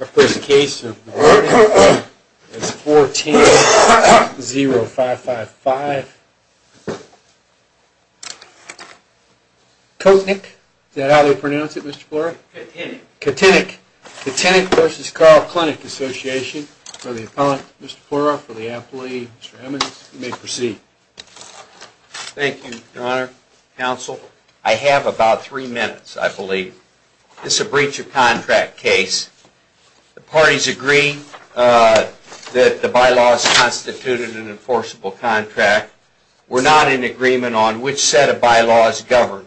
Our first case of the morning is 14-0555 Kotynek v. Carle Clinic Association for the Appellee. Mr. Emmons, you may proceed. Thank you, Your Honor, Counsel. I have about three minutes, I believe. This is a breach of contract case. The parties agree that the bylaws constituted an enforceable contract. We're not in agreement on which set of bylaws govern.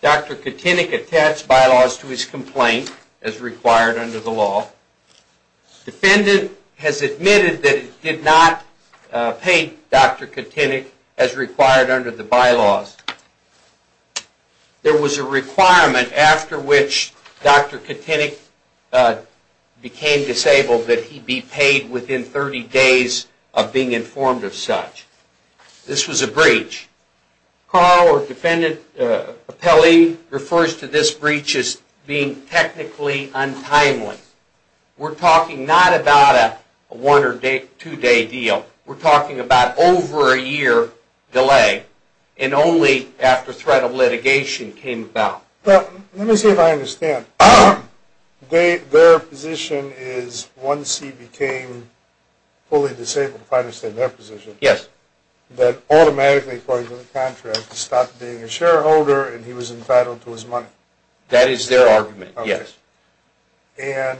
Dr. Kotynek attached bylaws to his complaint as required under the law. Defendant has admitted that he did not pay Dr. Kotynek as required under the bylaws. There was a requirement after which Dr. Kotynek became disabled that he be paid within 30 days of being informed of such. This was a breach. Carle or defendant, appellee, refers to this breach as being technically untimely. We're talking not about a one or two day deal. We're talking about over a year delay and only after threat of litigation came about. Let me see if I understand. Their position is once he became fully disabled, if I understand their position, that automatically according to the contract he stopped being a shareholder and he was entitled to his money. That is their argument, yes. And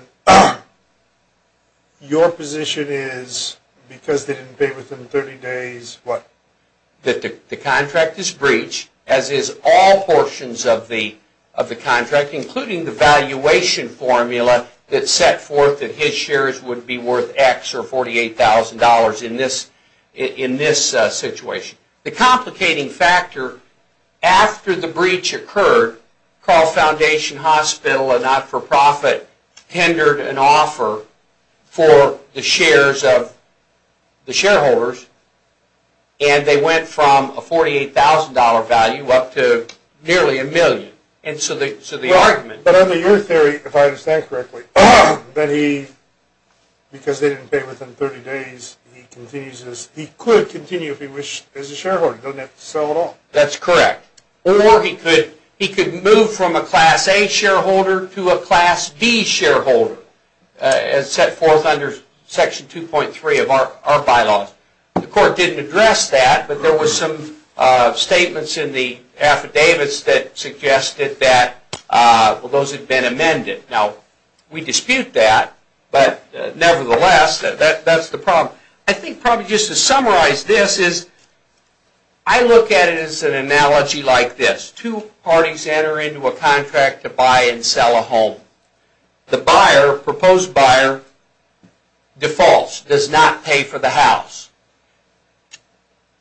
your position is because they didn't pay within 30 days, what? That the contract is breached as is all portions of the contract including the valuation formula that set forth that his shares would be worth X or $48,000 in this situation. The complicating factor after the breach occurred, Carle Foundation Hospital, a not-for-profit, hindered an offer for the shares of the shareholders and they went from a $48,000 value up to nearly a million. But under your theory, if I understand correctly, because they didn't pay within 30 days, he could continue if he wished as a shareholder. He doesn't have to sell at all. That's correct. Or he could move from a Class A shareholder to a Class B shareholder as set forth under Section 2.3 of our bylaws. The court didn't address that, but there were some statements in the affidavits that suggested that those had been amended. Now, we dispute that, but nevertheless, that's the problem. I think probably just to summarize this is, I look at it as an analogy like this. Two parties enter into a contract to buy and sell a home. The proposed buyer defaults, does not pay for the house.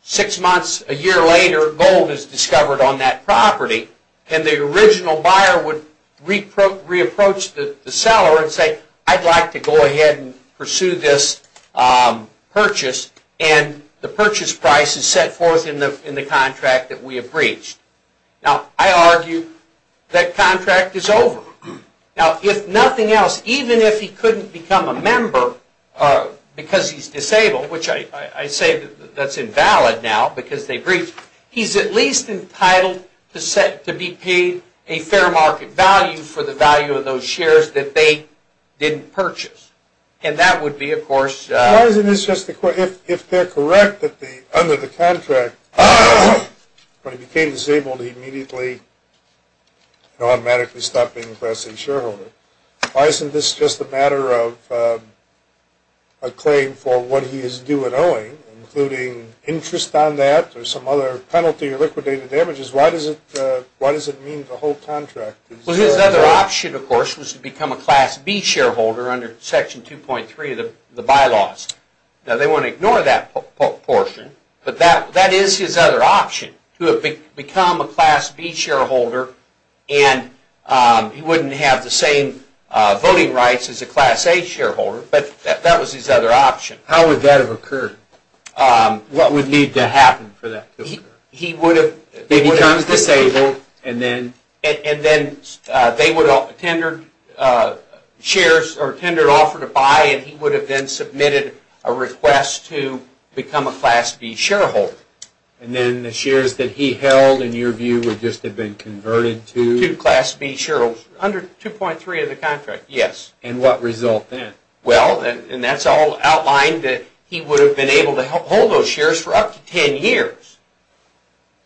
Six months, a year later, gold is discovered on that property and the original buyer would re-approach the seller and say, I'd like to go ahead and pursue this purchase and the purchase price is set forth in the contract that we have breached. Now, I argue that contract is over. Now, if nothing else, even if he couldn't become a member because he's disabled, which I say that's invalid now because they breached, he's at least entitled to be paid a fair market value for the value of those shares that they didn't purchase. Why isn't this just a matter of a claim for what he is due in owing, including interest on that or some other penalty or liquidated damages? Why does it mean the whole contract? Well, his other option, of course, was to become a Class B shareholder under Section 2.3 of the bylaws. Now, they want to ignore that portion, but that is his other option. To become a Class B shareholder and he wouldn't have the same voting rights as a Class A shareholder, but that was his other option. How would that have occurred? What would need to happen for that to occur? He becomes disabled and then they would have tendered an offer to buy and he would have then submitted a request to become a Class B shareholder. And then the shares that he held, in your view, would just have been converted to? To Class B shareholders under 2.3 of the contract, yes. And what result then? Well, and that's all outlined that he would have been able to hold those shares for up to 10 years,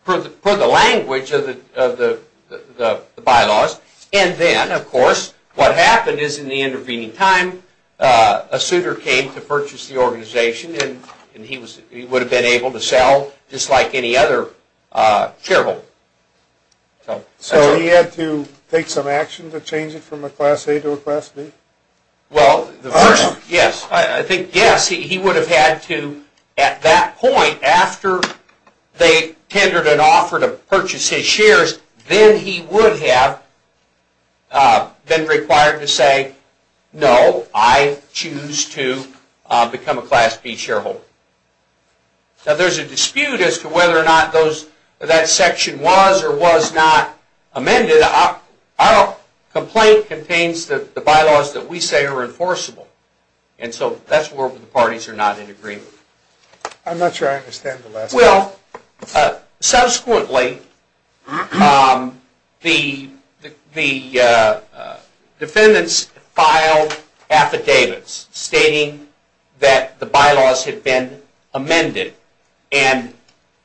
per the language of the bylaws. And then, of course, what happened is in the intervening time, a suitor came to purchase the organization and he would have been able to sell just like any other shareholder. So he had to take some action to change it from a Class A to a Class B? Well, I think yes. He would have had to at that point, after they tendered an offer to purchase his shares, then he would have been required to say, no, I choose to become a Class B shareholder. Now there's a dispute as to whether or not that section was or was not amended. Our complaint contains that the bylaws that we say are enforceable. And so that's where the parties are not in agreement. I'm not sure I understand the last part. Well, subsequently, the defendants filed affidavits stating that the bylaws had been amended and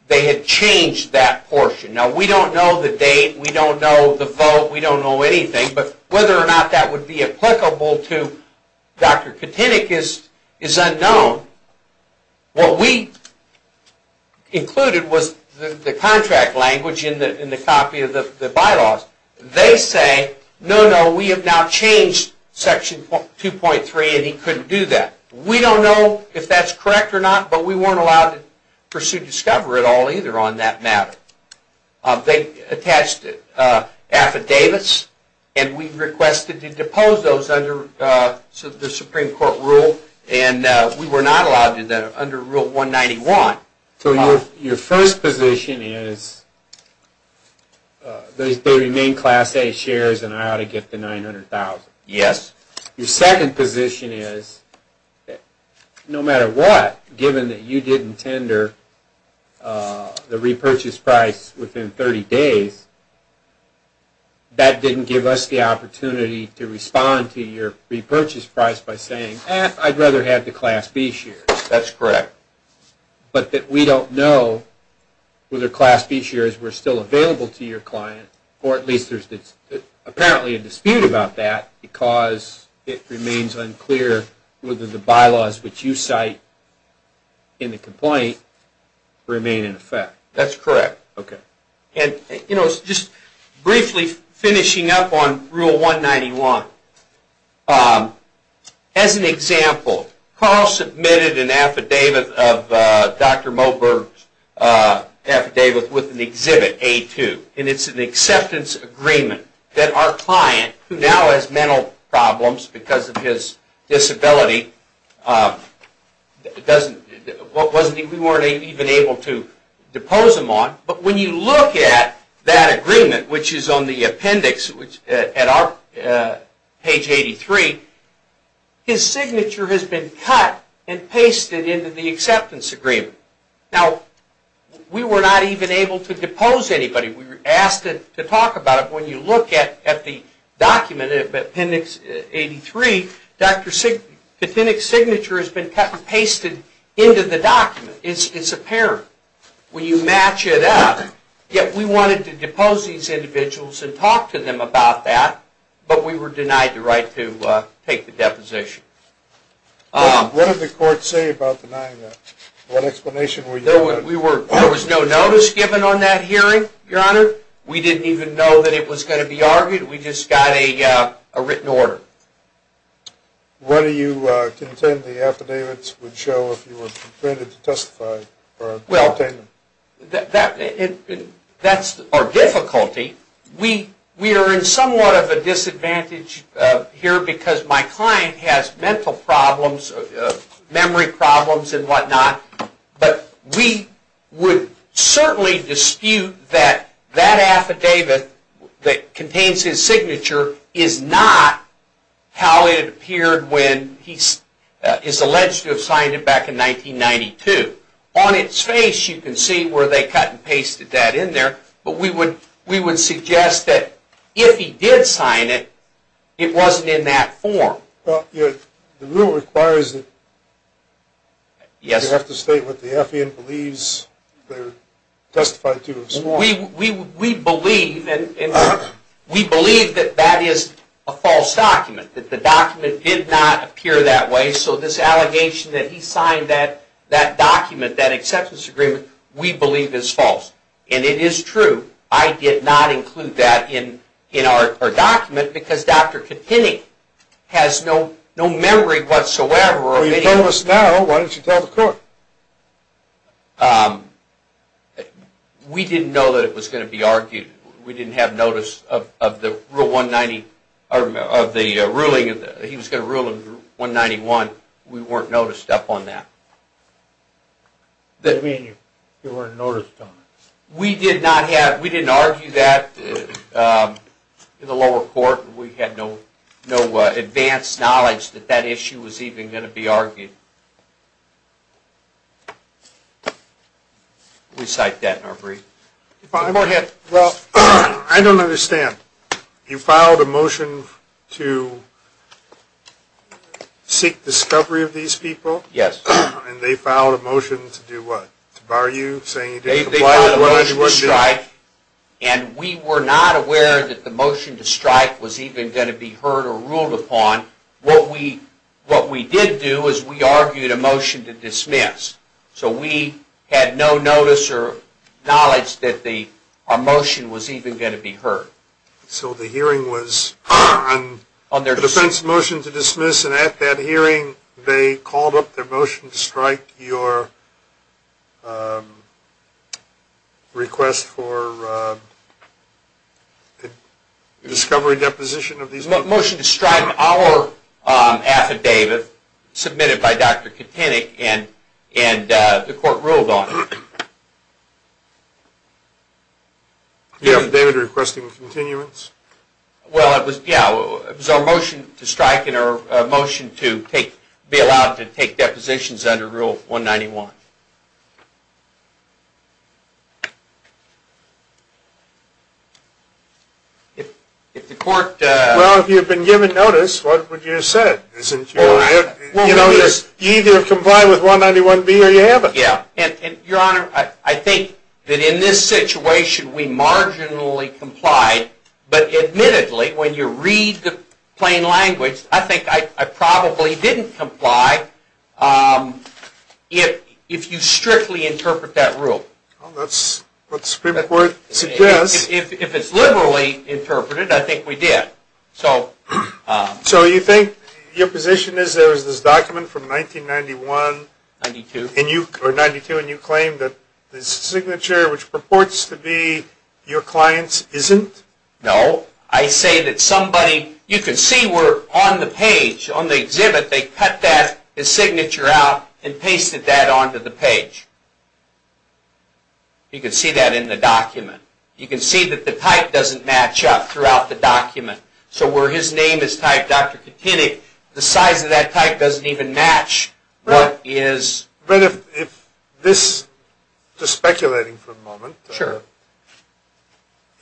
they had changed that portion. Now we don't know the date. We don't know the vote. We don't know anything. But whether or not that would be applicable to Dr. Katynik is unknown. What we included was the contract language in the copy of the bylaws. They say, no, no, we have now changed Section 2.3 and he couldn't do that. We don't know if that's correct or not, but we weren't allowed to pursue discovery at all either on that matter. They attached affidavits and we requested to depose those under the Supreme Court rule. And we were not allowed to do that under Rule 191. So your first position is they remain Class A shares and I ought to get the $900,000? Yes. Your second position is no matter what, given that you didn't tender the repurchase price within 30 days, that didn't give us the opportunity to respond to your repurchase price by saying, eh, I'd rather have the Class B shares. That's correct. But that we don't know whether Class B shares were still available to your client, or at least there's apparently a dispute about that because it remains unclear whether the bylaws which you cite in the complaint remain in effect. That's correct. Okay. And just briefly finishing up on Rule 191, as an example, Carl submitted an affidavit of Dr. Moberg's affidavit with an exhibit, A2, and it's an acceptance agreement that our client, who now has mental problems because of his disability, we weren't even able to depose him on. But when you look at that agreement, which is on the appendix at page 83, his signature has been cut and pasted into the acceptance agreement. Now, we were not even able to depose anybody. We were asked to talk about it. When you look at the document, appendix 83, the appendix signature has been cut and pasted into the document. It's apparent. When you match it up, yet we wanted to depose these individuals and talk to them about that, but we were denied the right to take the deposition. What did the court say about denying that? What explanation were you given? There was no notice given on that hearing, Your Honor. We didn't even know that it was going to be argued. We just got a written order. What do you contend the affidavits would show if you were permitted to testify or obtain them? Well, that's our difficulty. We are in somewhat of a disadvantage here because my client has mental problems, memory problems and whatnot, but we would certainly dispute that that affidavit that contains his signature is not how it appeared when he is alleged to have signed it back in 1992. On its face you can see where they cut and pasted that in there, but we would suggest that if he did sign it, it wasn't in that form. Well, the rule requires that you have to state what the affidavit believes they were testified to. We believe that that is a false document, that the document did not appear that way, so this allegation that he signed that document, that acceptance agreement, we believe is false. And it is true. I did not include that in our document because Dr. Kinney has no memory whatsoever. Well, you know this now. Why didn't you tell the court? We didn't know that it was going to be argued. We didn't have notice of the ruling. He was going to rule in 191. We weren't noticed up on that. That means you weren't noticed on it. We didn't argue that in the lower court. We had no advanced knowledge that that issue was even going to be argued. We cite that in our brief. Well, I don't understand. You filed a motion to seek discovery of these people? Yes. And they filed a motion to do what? To bar you saying you didn't comply? They filed a motion to strike, and we were not aware that the motion to strike was even going to be heard or ruled upon. What we did do is we argued a motion to dismiss. So we had no notice or knowledge that our motion was even going to be heard. So the hearing was on the defense motion to dismiss, and at that hearing they called up their motion to strike your request for discovery deposition of these people? The motion to strike our affidavit submitted by Dr. Katanik, and the court ruled on it. You have David requesting continuance? Well, it was our motion to strike and our motion to be allowed to take depositions under Rule 191. Well, if you had been given notice, what would you have said? You either have complied with 191B or you haven't. Your Honor, I think that in this situation we marginally complied, but admittedly when you read the plain language, I think I probably didn't comply if you strictly interpret that rule. Well, that's what the Supreme Court suggests. If it's liberally interpreted, I think we did. So you think your position is there was this document from 1992, and you claim that the signature which purports to be your client's isn't? No. I say that somebody, you can see where on the page, on the exhibit, they cut that signature out and pasted that onto the page. You can see that in the document. You can see that the type doesn't match up throughout the document. So where his name is typed, Dr. Katynik, the size of that type doesn't even match what is... Right. But if this, just speculating for a moment... Sure.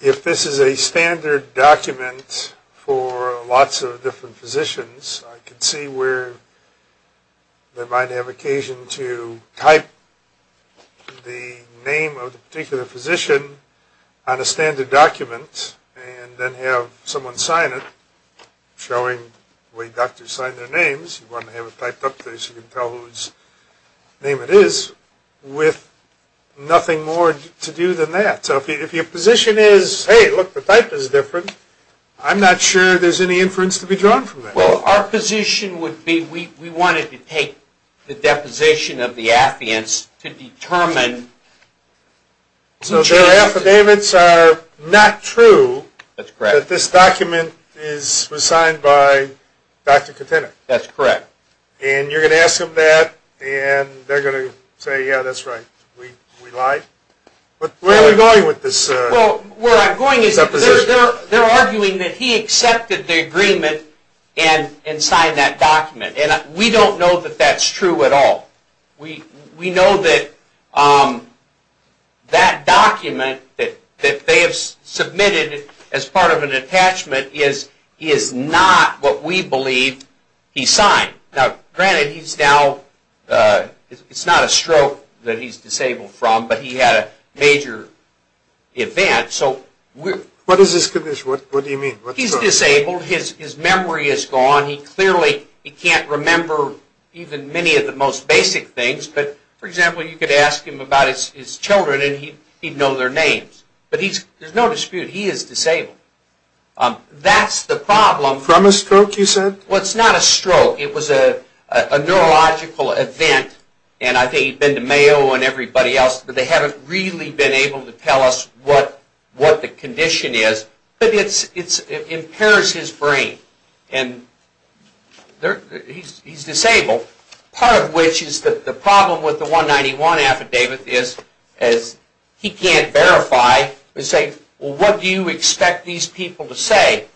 If this is a standard document for lots of different physicians, I can see where they might have occasion to type the name of the particular physician on a standard document, and then have someone sign it, showing the way doctors sign their names. You want to have it typed up so you can tell whose name it is, with nothing more to do than that. So if your position is, hey, look, the type is different, I'm not sure there's any inference to be drawn from that. Well, our position would be we wanted to take the deposition of the affidavits to determine... So their affidavits are not true... That's correct. ...that this document was signed by Dr. Katynik. That's correct. And you're going to ask them that, and they're going to say, yeah, that's right, we lied. But where are we going with this deposition? Well, where I'm going is they're arguing that he accepted the agreement and signed that document. And we don't know that that's true at all. We know that that document that they have submitted as part of an attachment is not what we believe he signed. Now, granted, he's now, it's not a stroke that he's disabled from, but he had a major event, so... What is this condition? What do you mean? He's disabled. His memory is gone. He clearly, he can't remember even many of the most basic things. But, for example, you could ask him about his children, and he'd know their names. But there's no dispute, he is disabled. That's the problem... From a stroke, you said? Well, it's not a stroke. It was a neurological event. And I think he'd been to Mayo and everybody else, but they haven't really been able to tell us what the condition is. But it impairs his brain. And he's disabled. Part of which is the problem with the 191 affidavit is he can't verify and say, well, what do you expect these people to say?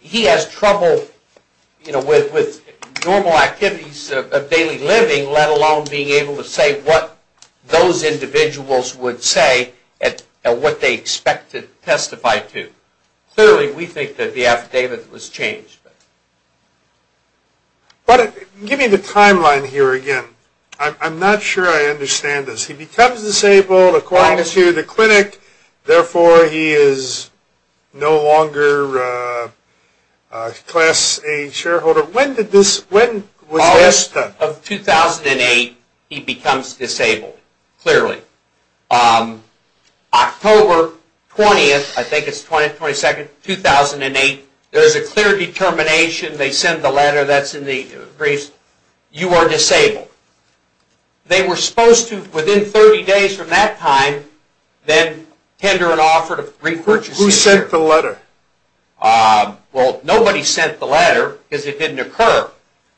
He has trouble, you know, with normal activities of daily living, let alone being able to say what those individuals would say and what they expect to testify to. Clearly, we think that the affidavit was changed. Give me the timeline here again. I'm not sure I understand this. He becomes disabled, acquires the clinic, therefore he is no longer a Class A shareholder. When was this done? August of 2008, he becomes disabled, clearly. October 20th, I think it's 20th, 22nd, 2008, there's a clear determination. They send the letter that's in the briefs, you are disabled. They were supposed to, within 30 days from that time, then tender an offer to repurchase you. Who sent the letter? Well, nobody sent the letter because it didn't occur.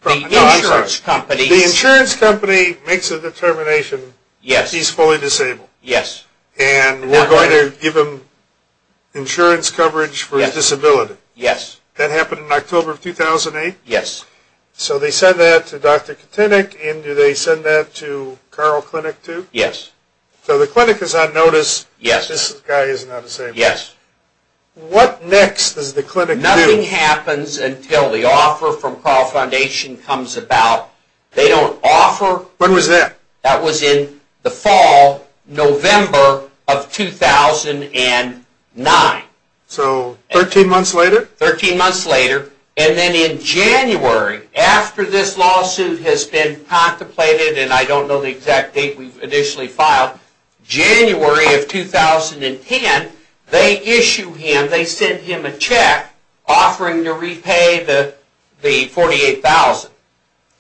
The insurance company. The insurance company makes a determination that he's fully disabled. Yes. And we're going to give him insurance coverage for his disability. Yes. That happened in October of 2008? Yes. So they send that to Dr. Katenek, and do they send that to Carl Clinic too? Yes. So the clinic is on notice, this guy is not disabled. Yes. What next does the clinic do? Nothing happens until the offer from Carl Foundation comes about. They don't offer. When was that? That was in the fall, November of 2009. So, 13 months later? 13 months later. And then in January, after this lawsuit has been contemplated, and I don't know the exact date we've initially filed, January of 2010, they issue him, they send him a check offering to repay the $48,000.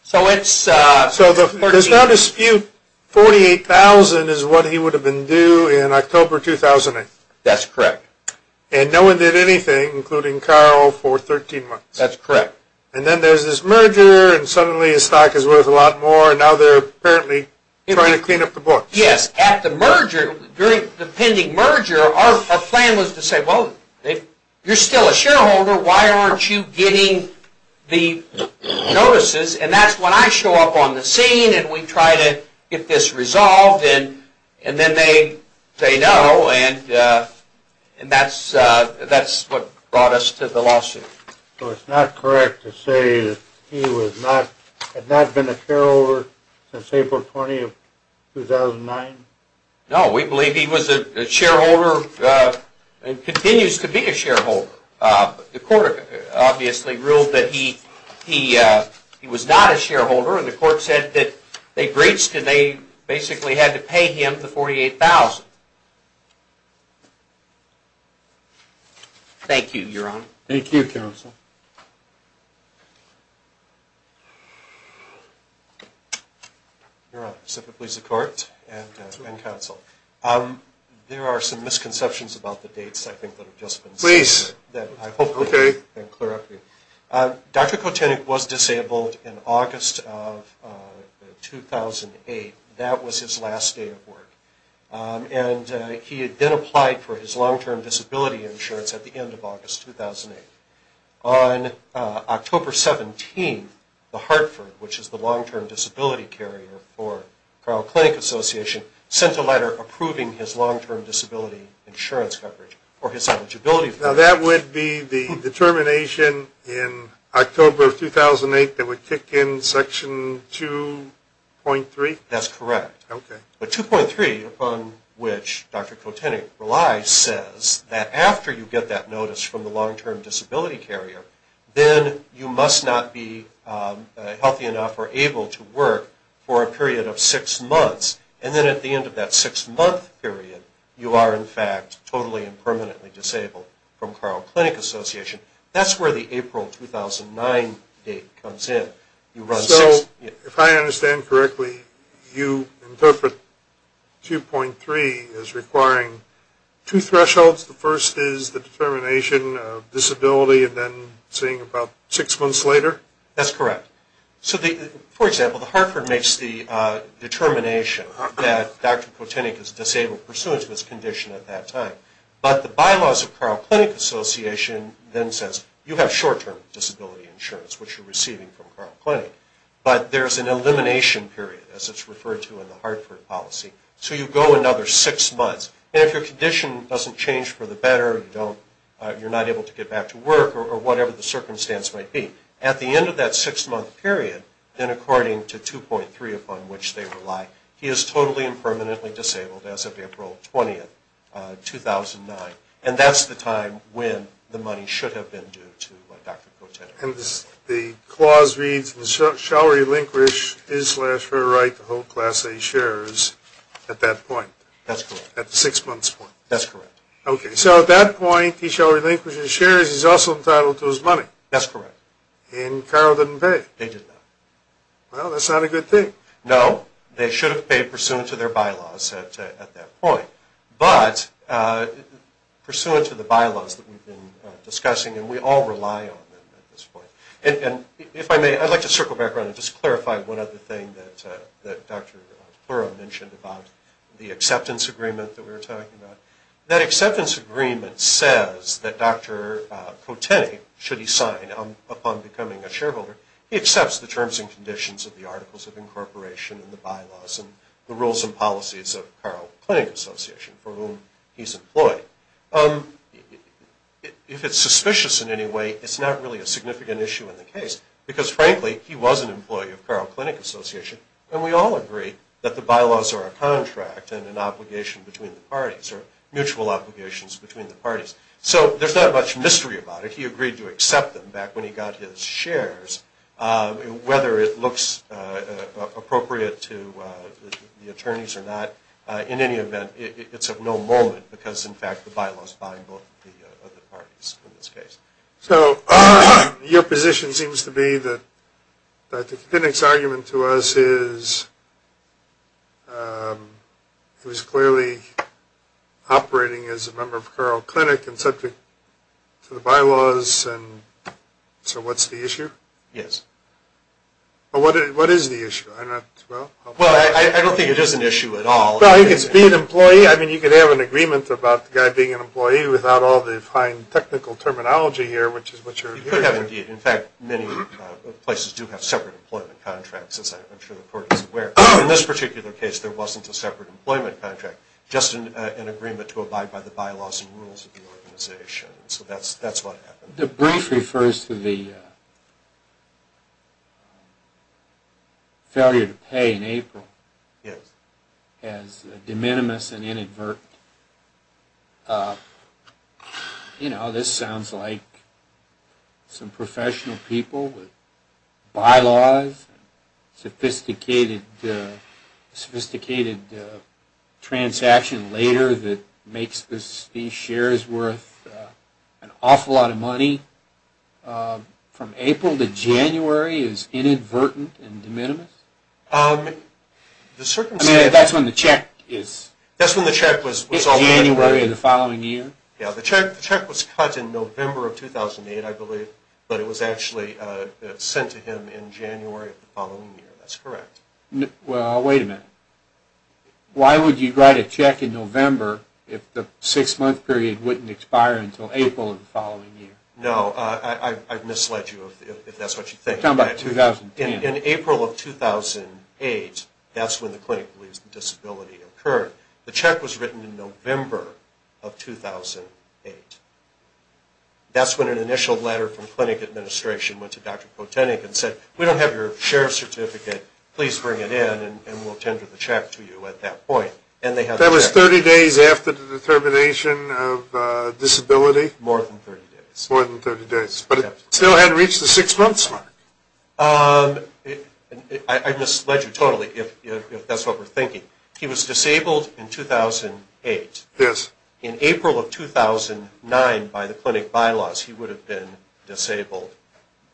So it's... So there's no dispute, $48,000 is what he would have been due in October 2008? That's correct. And no one did anything, including Carl, for 13 months? That's correct. And then there's this merger, and suddenly his stock is worth a lot more, and now they're apparently trying to clean up the books. Yes. At the merger, during the pending merger, our plan was to say, well, if you're still a shareholder, why aren't you getting the notices? And that's when I show up on the scene, and we try to get this resolved, and then they say no, and that's what brought us to the lawsuit. So it's not correct to say that he had not been a shareholder since April 20, 2009? No, we believe he was a shareholder and continues to be a shareholder. The court obviously ruled that he was not a shareholder, and the court said that they breached and they basically had to pay him the $48,000. Thank you, Your Honor. Thank you, counsel. Your Honor, if it pleases the court and counsel, there are some misconceptions about the dates, I think, that have just been said. Please. I hope I've been clear. Dr. Kotenek was disabled in August of 2008. That was his last day of work. And he had then applied for his long-term disability insurance at the end of August 2008. On October 17, the Hartford, which is the long-term disability carrier for Crow Clinic Association, sent a letter approving his long-term disability insurance coverage, or his eligibility coverage. Now, that would be the determination in October of 2008 that would kick in Section 2.3? That's correct. Okay. But 2.3, upon which Dr. Kotenek relies, says that after you get that notice from the long-term disability carrier, then you must not be healthy enough or able to work for a period of six months. And then at the end of that six-month period, you are, in fact, totally and permanently disabled from Crow Clinic Association. That's where the April 2009 date comes in. So, if I understand correctly, you interpret 2.3 as requiring two thresholds. The first is the determination of disability and then seeing about six months later? That's correct. For example, the Hartford makes the determination that Dr. Kotenek is disabled pursuant to his condition at that time. But the bylaws of Crow Clinic Association then says, you have short-term disability insurance, which you're receiving from Crow Clinic. But there's an elimination period, as it's referred to in the Hartford policy. So you go another six months. And if your condition doesn't change for the better, you're not able to get back to work or whatever the circumstance might be, at the end of that six-month period, then according to 2.3, upon which they rely, he is totally and permanently disabled as of April 20, 2009. And that's the time when the money should have been due to Dr. Kotenek. And the clause reads, shall relinquish his slash her right to hold Class A shares at that point? That's correct. At the six-months point? That's correct. Okay, so at that point, he shall relinquish his shares. He's also entitled to his money. That's correct. And Carroll didn't pay? They did not. Well, that's not a good thing. No, they should have paid pursuant to their bylaws at that point. But pursuant to the bylaws that we've been discussing, and we all rely on them at this point. And if I may, I'd like to circle back around and just clarify one other thing that Dr. DePlura mentioned about the acceptance agreement that we were talking about. That acceptance agreement says that Dr. Kotenek, should he sign upon becoming a shareholder, he accepts the terms and conditions of the Articles of Incorporation and the bylaws and the rules and policies of Carroll Clinic Association for whom he's employed. If it's suspicious in any way, it's not really a significant issue in the case, because frankly, he was an employee of Carroll Clinic Association, and we all agree that the bylaws are a contract and an obligation between the parties, or mutual obligations between the parties. So there's not much mystery about it. He agreed to accept them back when he got his shares. Whether it looks appropriate to the attorneys or not, in any event, it's of no moment because, in fact, the bylaws bind both the parties in this case. So your position seems to be that the Kotenek's argument to us is he was clearly operating as a member of Carroll Clinic and subject to the bylaws, and so what's the issue? Yes. Well, what is the issue? Well, I don't think it is an issue at all. Well, he can be an employee. I mean, you could have an agreement about the guy being an employee without all the fine technical terminology here, which is what you're hearing. You could have, indeed. In fact, many places do have separate employment contracts, as I'm sure the court is aware. In this particular case, there wasn't a separate employment contract, just an agreement to abide by the bylaws and rules of the organization. So that's what happened. The brief refers to the failure to pay in April. Yes. As de minimis and inadvertent. You know, this sounds like some professional people with bylaws, sophisticated transaction later that makes these shares worth an awful lot of money. From April to January is inadvertent and de minimis? I mean, that's when the check is. That's when the check was. January of the following year. Yes, the check was cut in November of 2008, I believe, but it was actually sent to him in January of the following year. That's correct. Well, wait a minute. Why would you write a check in November if the six-month period wouldn't expire until April of the following year? No, I've misled you, if that's what you think. I'm talking about 2010. In April of 2008, that's when the clinic believes the disability occurred. The check was written in November of 2008. That's when an initial letter from the clinic administration went to Dr. Potenik and said, We don't have your share certificate. Please bring it in, and we'll tender the check to you at that point. That was 30 days after the determination of disability? More than 30 days. More than 30 days. But it still hadn't reached the six-month mark. I misled you totally, if that's what we're thinking. He was disabled in 2008. Yes. In April of 2009, by the clinic bylaws, he would have been disabled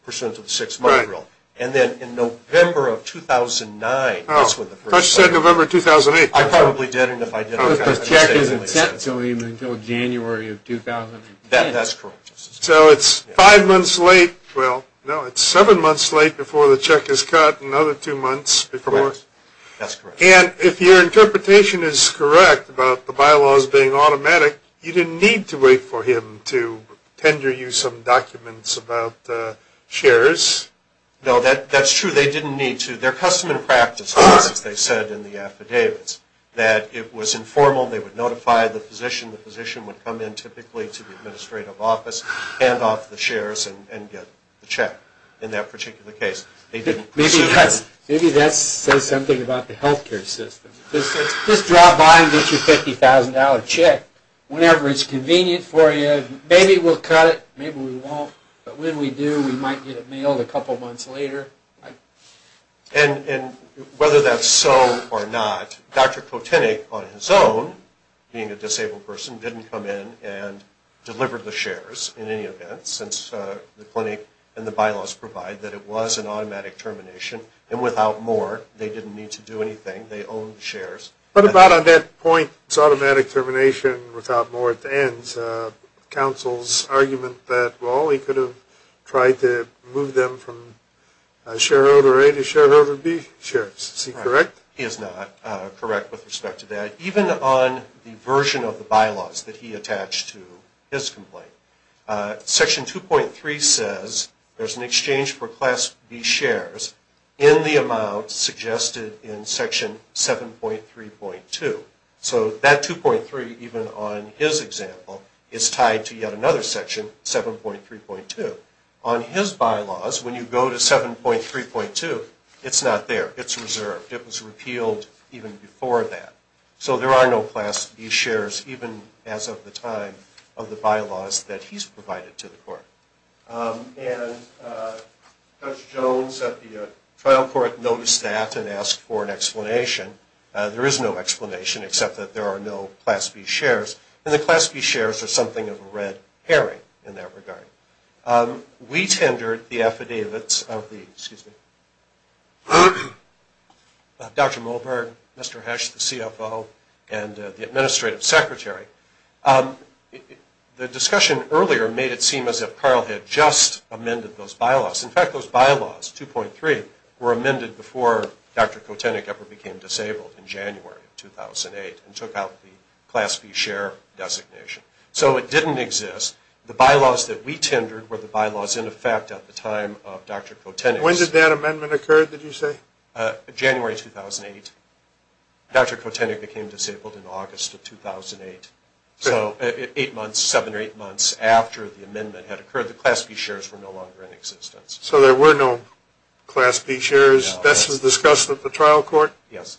pursuant to the six-month rule. Right. And then in November of 2009, that's when the first letter. Oh, but you said November of 2008. I probably did, and if I did, I would have misled you. The check isn't sent to him until January of 2010. That's correct. So it's five months late. Well, no, it's seven months late before the check is cut, and another two months before. That's correct. And if your interpretation is correct about the bylaws being automatic, you didn't need to wait for him to tender you some documents about shares? No, that's true. They didn't need to. They're custom and practice, as they said in the affidavits, that it was informal. They would notify the physician. The physician would come in typically to the administrative office, hand off the shares, and get the check in that particular case. Maybe that says something about the health care system. Just drop by and get your $50,000 check whenever it's convenient for you. Maybe we'll cut it. Maybe we won't. But when we do, we might get it mailed a couple months later. And whether that's so or not, Dr. Kotinik, on his own, being a disabled person, didn't come in and deliver the shares in any event, since the clinic and the bylaws provide that it was an automatic termination. And without more, they didn't need to do anything. They owned the shares. But about on that point, it's automatic termination without more at the end. Counsel's argument that, well, he could have tried to move them from shareholder A to shareholder B. Sheriff, is he correct? He is not correct with respect to that. Even on the version of the bylaws that he attached to his complaint, Section 2.3 says there's an exchange for Class B shares in the amount suggested in Section 7.3.2. So that 2.3, even on his example, is tied to yet another Section 7.3.2. On his bylaws, when you go to 7.3.2, it's not there. It's reserved. It was repealed even before that. So there are no Class B shares, even as of the time of the bylaws that he's provided to the court. And Judge Jones at the trial court noticed that and asked for an explanation. There is no explanation, except that there are no Class B shares. And the Class B shares are something of a red herring in that regard. We tendered the affidavits of Dr. Mulberg, Mr. Hesch, the CFO, and the Administrative Secretary. The discussion earlier made it seem as if Carl had just amended those bylaws. In fact, those bylaws, 2.3, were amended before Dr. Kotenek ever became disabled in January of 2008 and took out the Class B share designation. So it didn't exist. The bylaws that we tendered were the bylaws in effect at the time of Dr. Kotenek. When did that amendment occur, did you say? January 2008. Dr. Kotenek became disabled in August of 2008. So eight months, seven or eight months after the amendment had occurred, the Class B shares were no longer in existence. So there were no Class B shares. No. This was discussed at the trial court? Yes.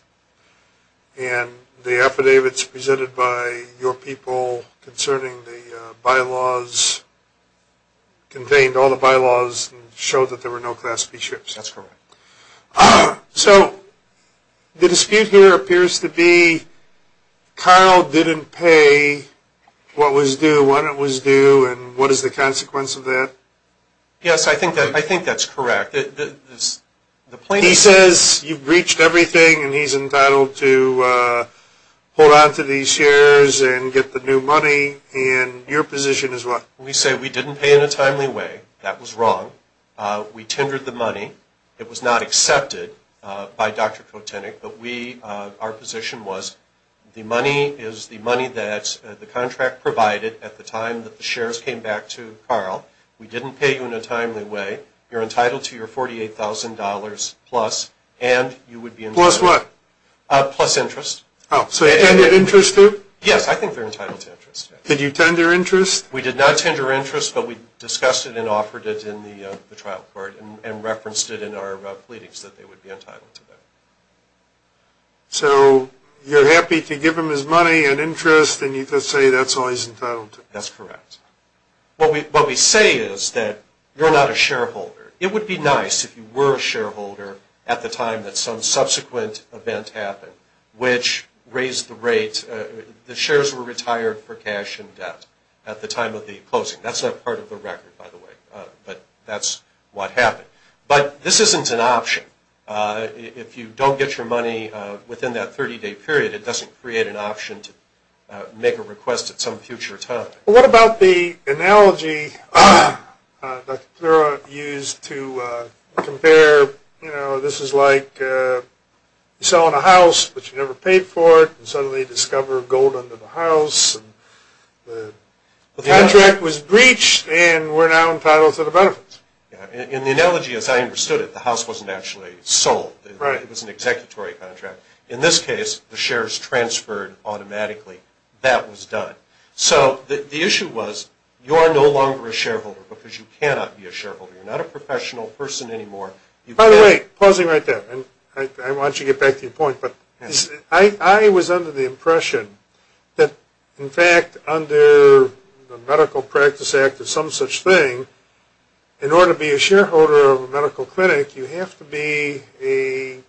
And the affidavits presented by your people concerning the bylaws contained all the bylaws and showed that there were no Class B shares. That's correct. So the dispute here appears to be Carl didn't pay what was due when it was due, and what is the consequence of that? Yes, I think that's correct. He says you've breached everything, and he's entitled to hold on to these shares and get the new money, and your position is what? We say we didn't pay in a timely way. That was wrong. We tendered the money. It was not accepted by Dr. Kotenek, but our position was the money is the money that the contract provided at the time that the shares came back to Carl. We didn't pay you in a timely way. You're entitled to your $48,000 plus, and you would be entitled to. Plus what? Plus interest. Oh, so they tendered interest too? Yes. I think they're entitled to interest. Did you tender interest? We did not tender interest, but we discussed it and offered it in the trial court and referenced it in our pleadings that they would be entitled to that. So you're happy to give him his money and interest, and you just say that's all he's entitled to? That's correct. What we say is that you're not a shareholder. It would be nice if you were a shareholder at the time that some subsequent event happened which raised the rate. The shares were retired for cash and debt at the time of the closing. That's not part of the record, by the way, but that's what happened. But this isn't an option. If you don't get your money within that 30-day period, it doesn't create an option to make a request at some future time. What about the analogy that you used to compare, you know, this is like you're selling a house, but you never paid for it, and suddenly you discover gold under the house. The contract was breached, and we're now entitled to the benefits. In the analogy, as I understood it, the house wasn't actually sold. It was an executory contract. In this case, the shares transferred automatically. That was done. So the issue was you're no longer a shareholder because you cannot be a shareholder. You're not a professional person anymore. By the way, pausing right there, and I want you to get back to your point, but I was under the impression that, in fact, under the Medical Practice Act or some such thing, in order to be a shareholder of a medical clinic, you have to be a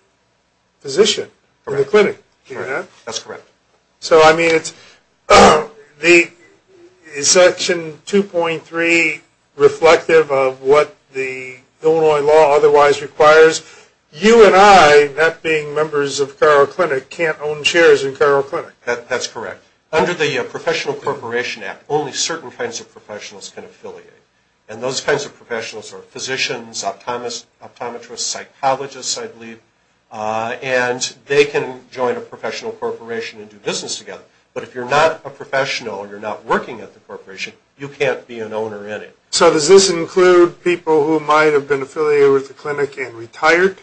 physician in the clinic. Correct. That's correct. So, I mean, is Section 2.3 reflective of what the Illinois law otherwise requires? You and I, not being members of Cairo Clinic, can't own shares in Cairo Clinic. That's correct. Under the Professional Corporation Act, only certain kinds of professionals can affiliate, and those kinds of professionals are physicians, optometrists, psychologists, I believe, and they can join a professional corporation and do business together. But if you're not a professional or you're not working at the corporation, you can't be an owner in it. So does this include people who might have been affiliated with the clinic and retired?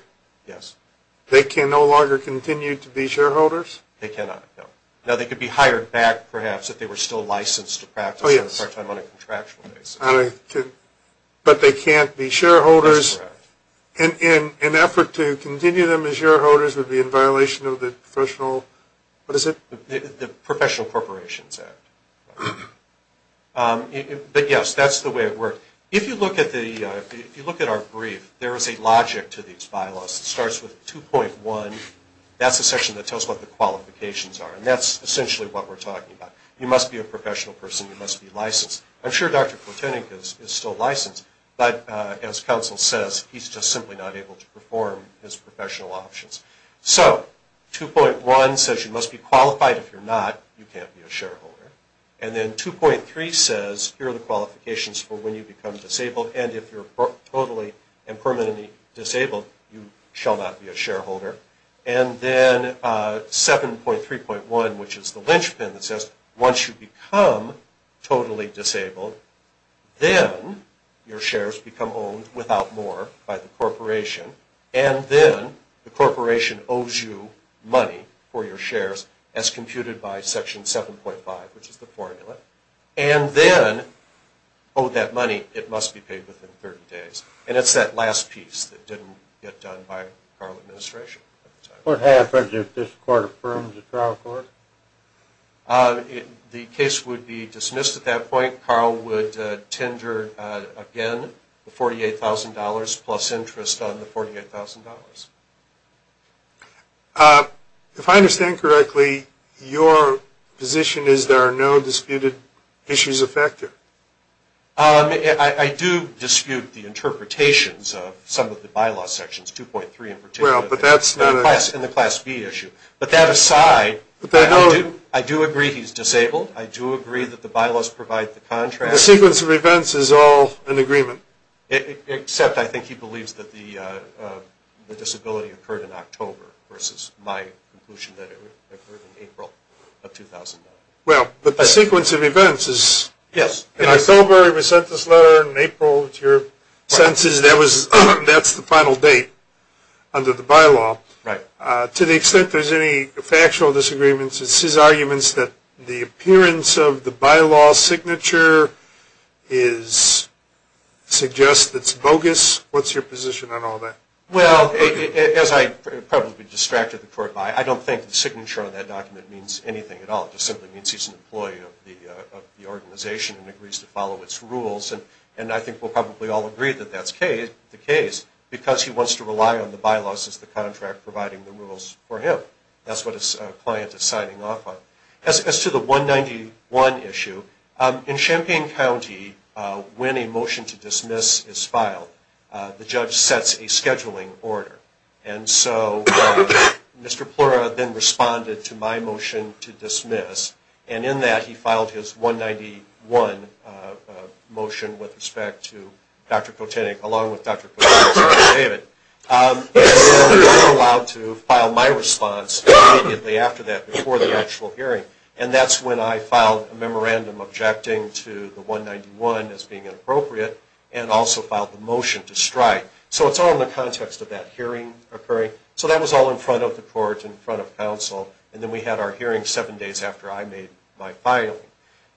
Yes. They can no longer continue to be shareholders? They cannot, no. Now, they could be hired back, perhaps, if they were still licensed to practice part-time on a contractual basis. But they can't be shareholders? That's correct. An effort to continue them as shareholders would be in violation of the professional, what is it? The Professional Corporations Act. But, yes, that's the way it works. If you look at our brief, there is a logic to these bylaws. It starts with 2.1. That's the section that tells what the qualifications are, and that's essentially what we're talking about. You must be a professional person. You must be licensed. I'm sure Dr. Kotenek is still licensed, but, as counsel says, he's just simply not able to perform his professional options. So 2.1 says you must be qualified. If you're not, you can't be a shareholder. And then 2.3 says here are the qualifications for when you become disabled, and if you're totally and permanently disabled, you shall not be a shareholder. And then 7.3.1, which is the linchpin that says once you become totally disabled, then your shares become owned without more by the corporation, and then the corporation owes you money for your shares as computed by Section 7.5, which is the formula, and then, oh, that money, it must be paid within 30 days. And it's that last piece that didn't get done by Carl's administration. What happens if this court affirms the trial court? The case would be dismissed at that point. Carl would tender again the $48,000 plus interest on the $48,000. If I understand correctly, your position is there are no disputed issues affected? I do dispute the interpretations of some of the bylaws sections, 2.3 in particular, and the Class B issue. But that aside, I do agree he's disabled. I do agree that the bylaws provide the contract. The sequence of events is all in agreement? Except I think he believes that the disability occurred in October versus my conclusion that it occurred in April of 2009. Well, but the sequence of events is in October he was sent this letter, and in April it's your sentence. That's the final date under the bylaw. To the extent there's any factual disagreements, it's his arguments that the appearance of the bylaw signature suggests it's bogus. What's your position on all that? Well, as I'd probably be distracted the court by, I don't think the signature on that document means anything at all. It just simply means he's an employee of the organization and agrees to follow its rules. And I think we'll probably all agree that that's the case because he wants to rely on the bylaws as the contract providing the rules for him. That's what his client is signing off on. As to the 191 issue, in Champaign County, when a motion to dismiss is filed, the judge sets a scheduling order. And so Mr. Plura then responded to my motion to dismiss, and in that he filed his 191 motion with respect to Dr. Kotinik, along with Dr. David. He was not allowed to file my response immediately after that, before the actual hearing. And that's when I filed a memorandum objecting to the 191 as being inappropriate and also filed the motion to strike. So it's all in the context of that hearing occurring. So that was all in front of the court, in front of counsel, and then we had our hearing seven days after I made my filing.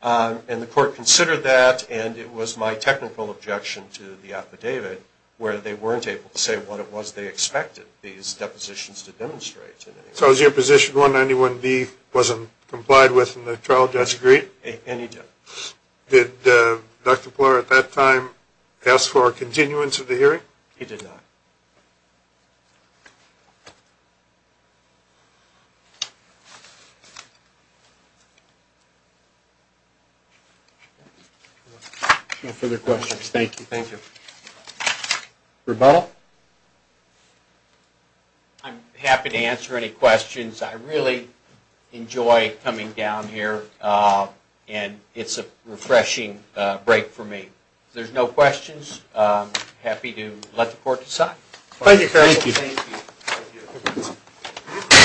And the court considered that, and it was my technical objection to the affidavit where they weren't able to say what it was they expected these depositions to demonstrate. So as your position, 191B wasn't complied with and the trial judge agreed? And he did. Did Dr. Plura at that time ask for a continuance of the hearing? He did not. No further questions. Thank you, thank you. Rebuttal? I'm happy to answer any questions. I really enjoy coming down here, and it's a refreshing break for me. If there's no questions, I'm happy to let the court decide. Thank you.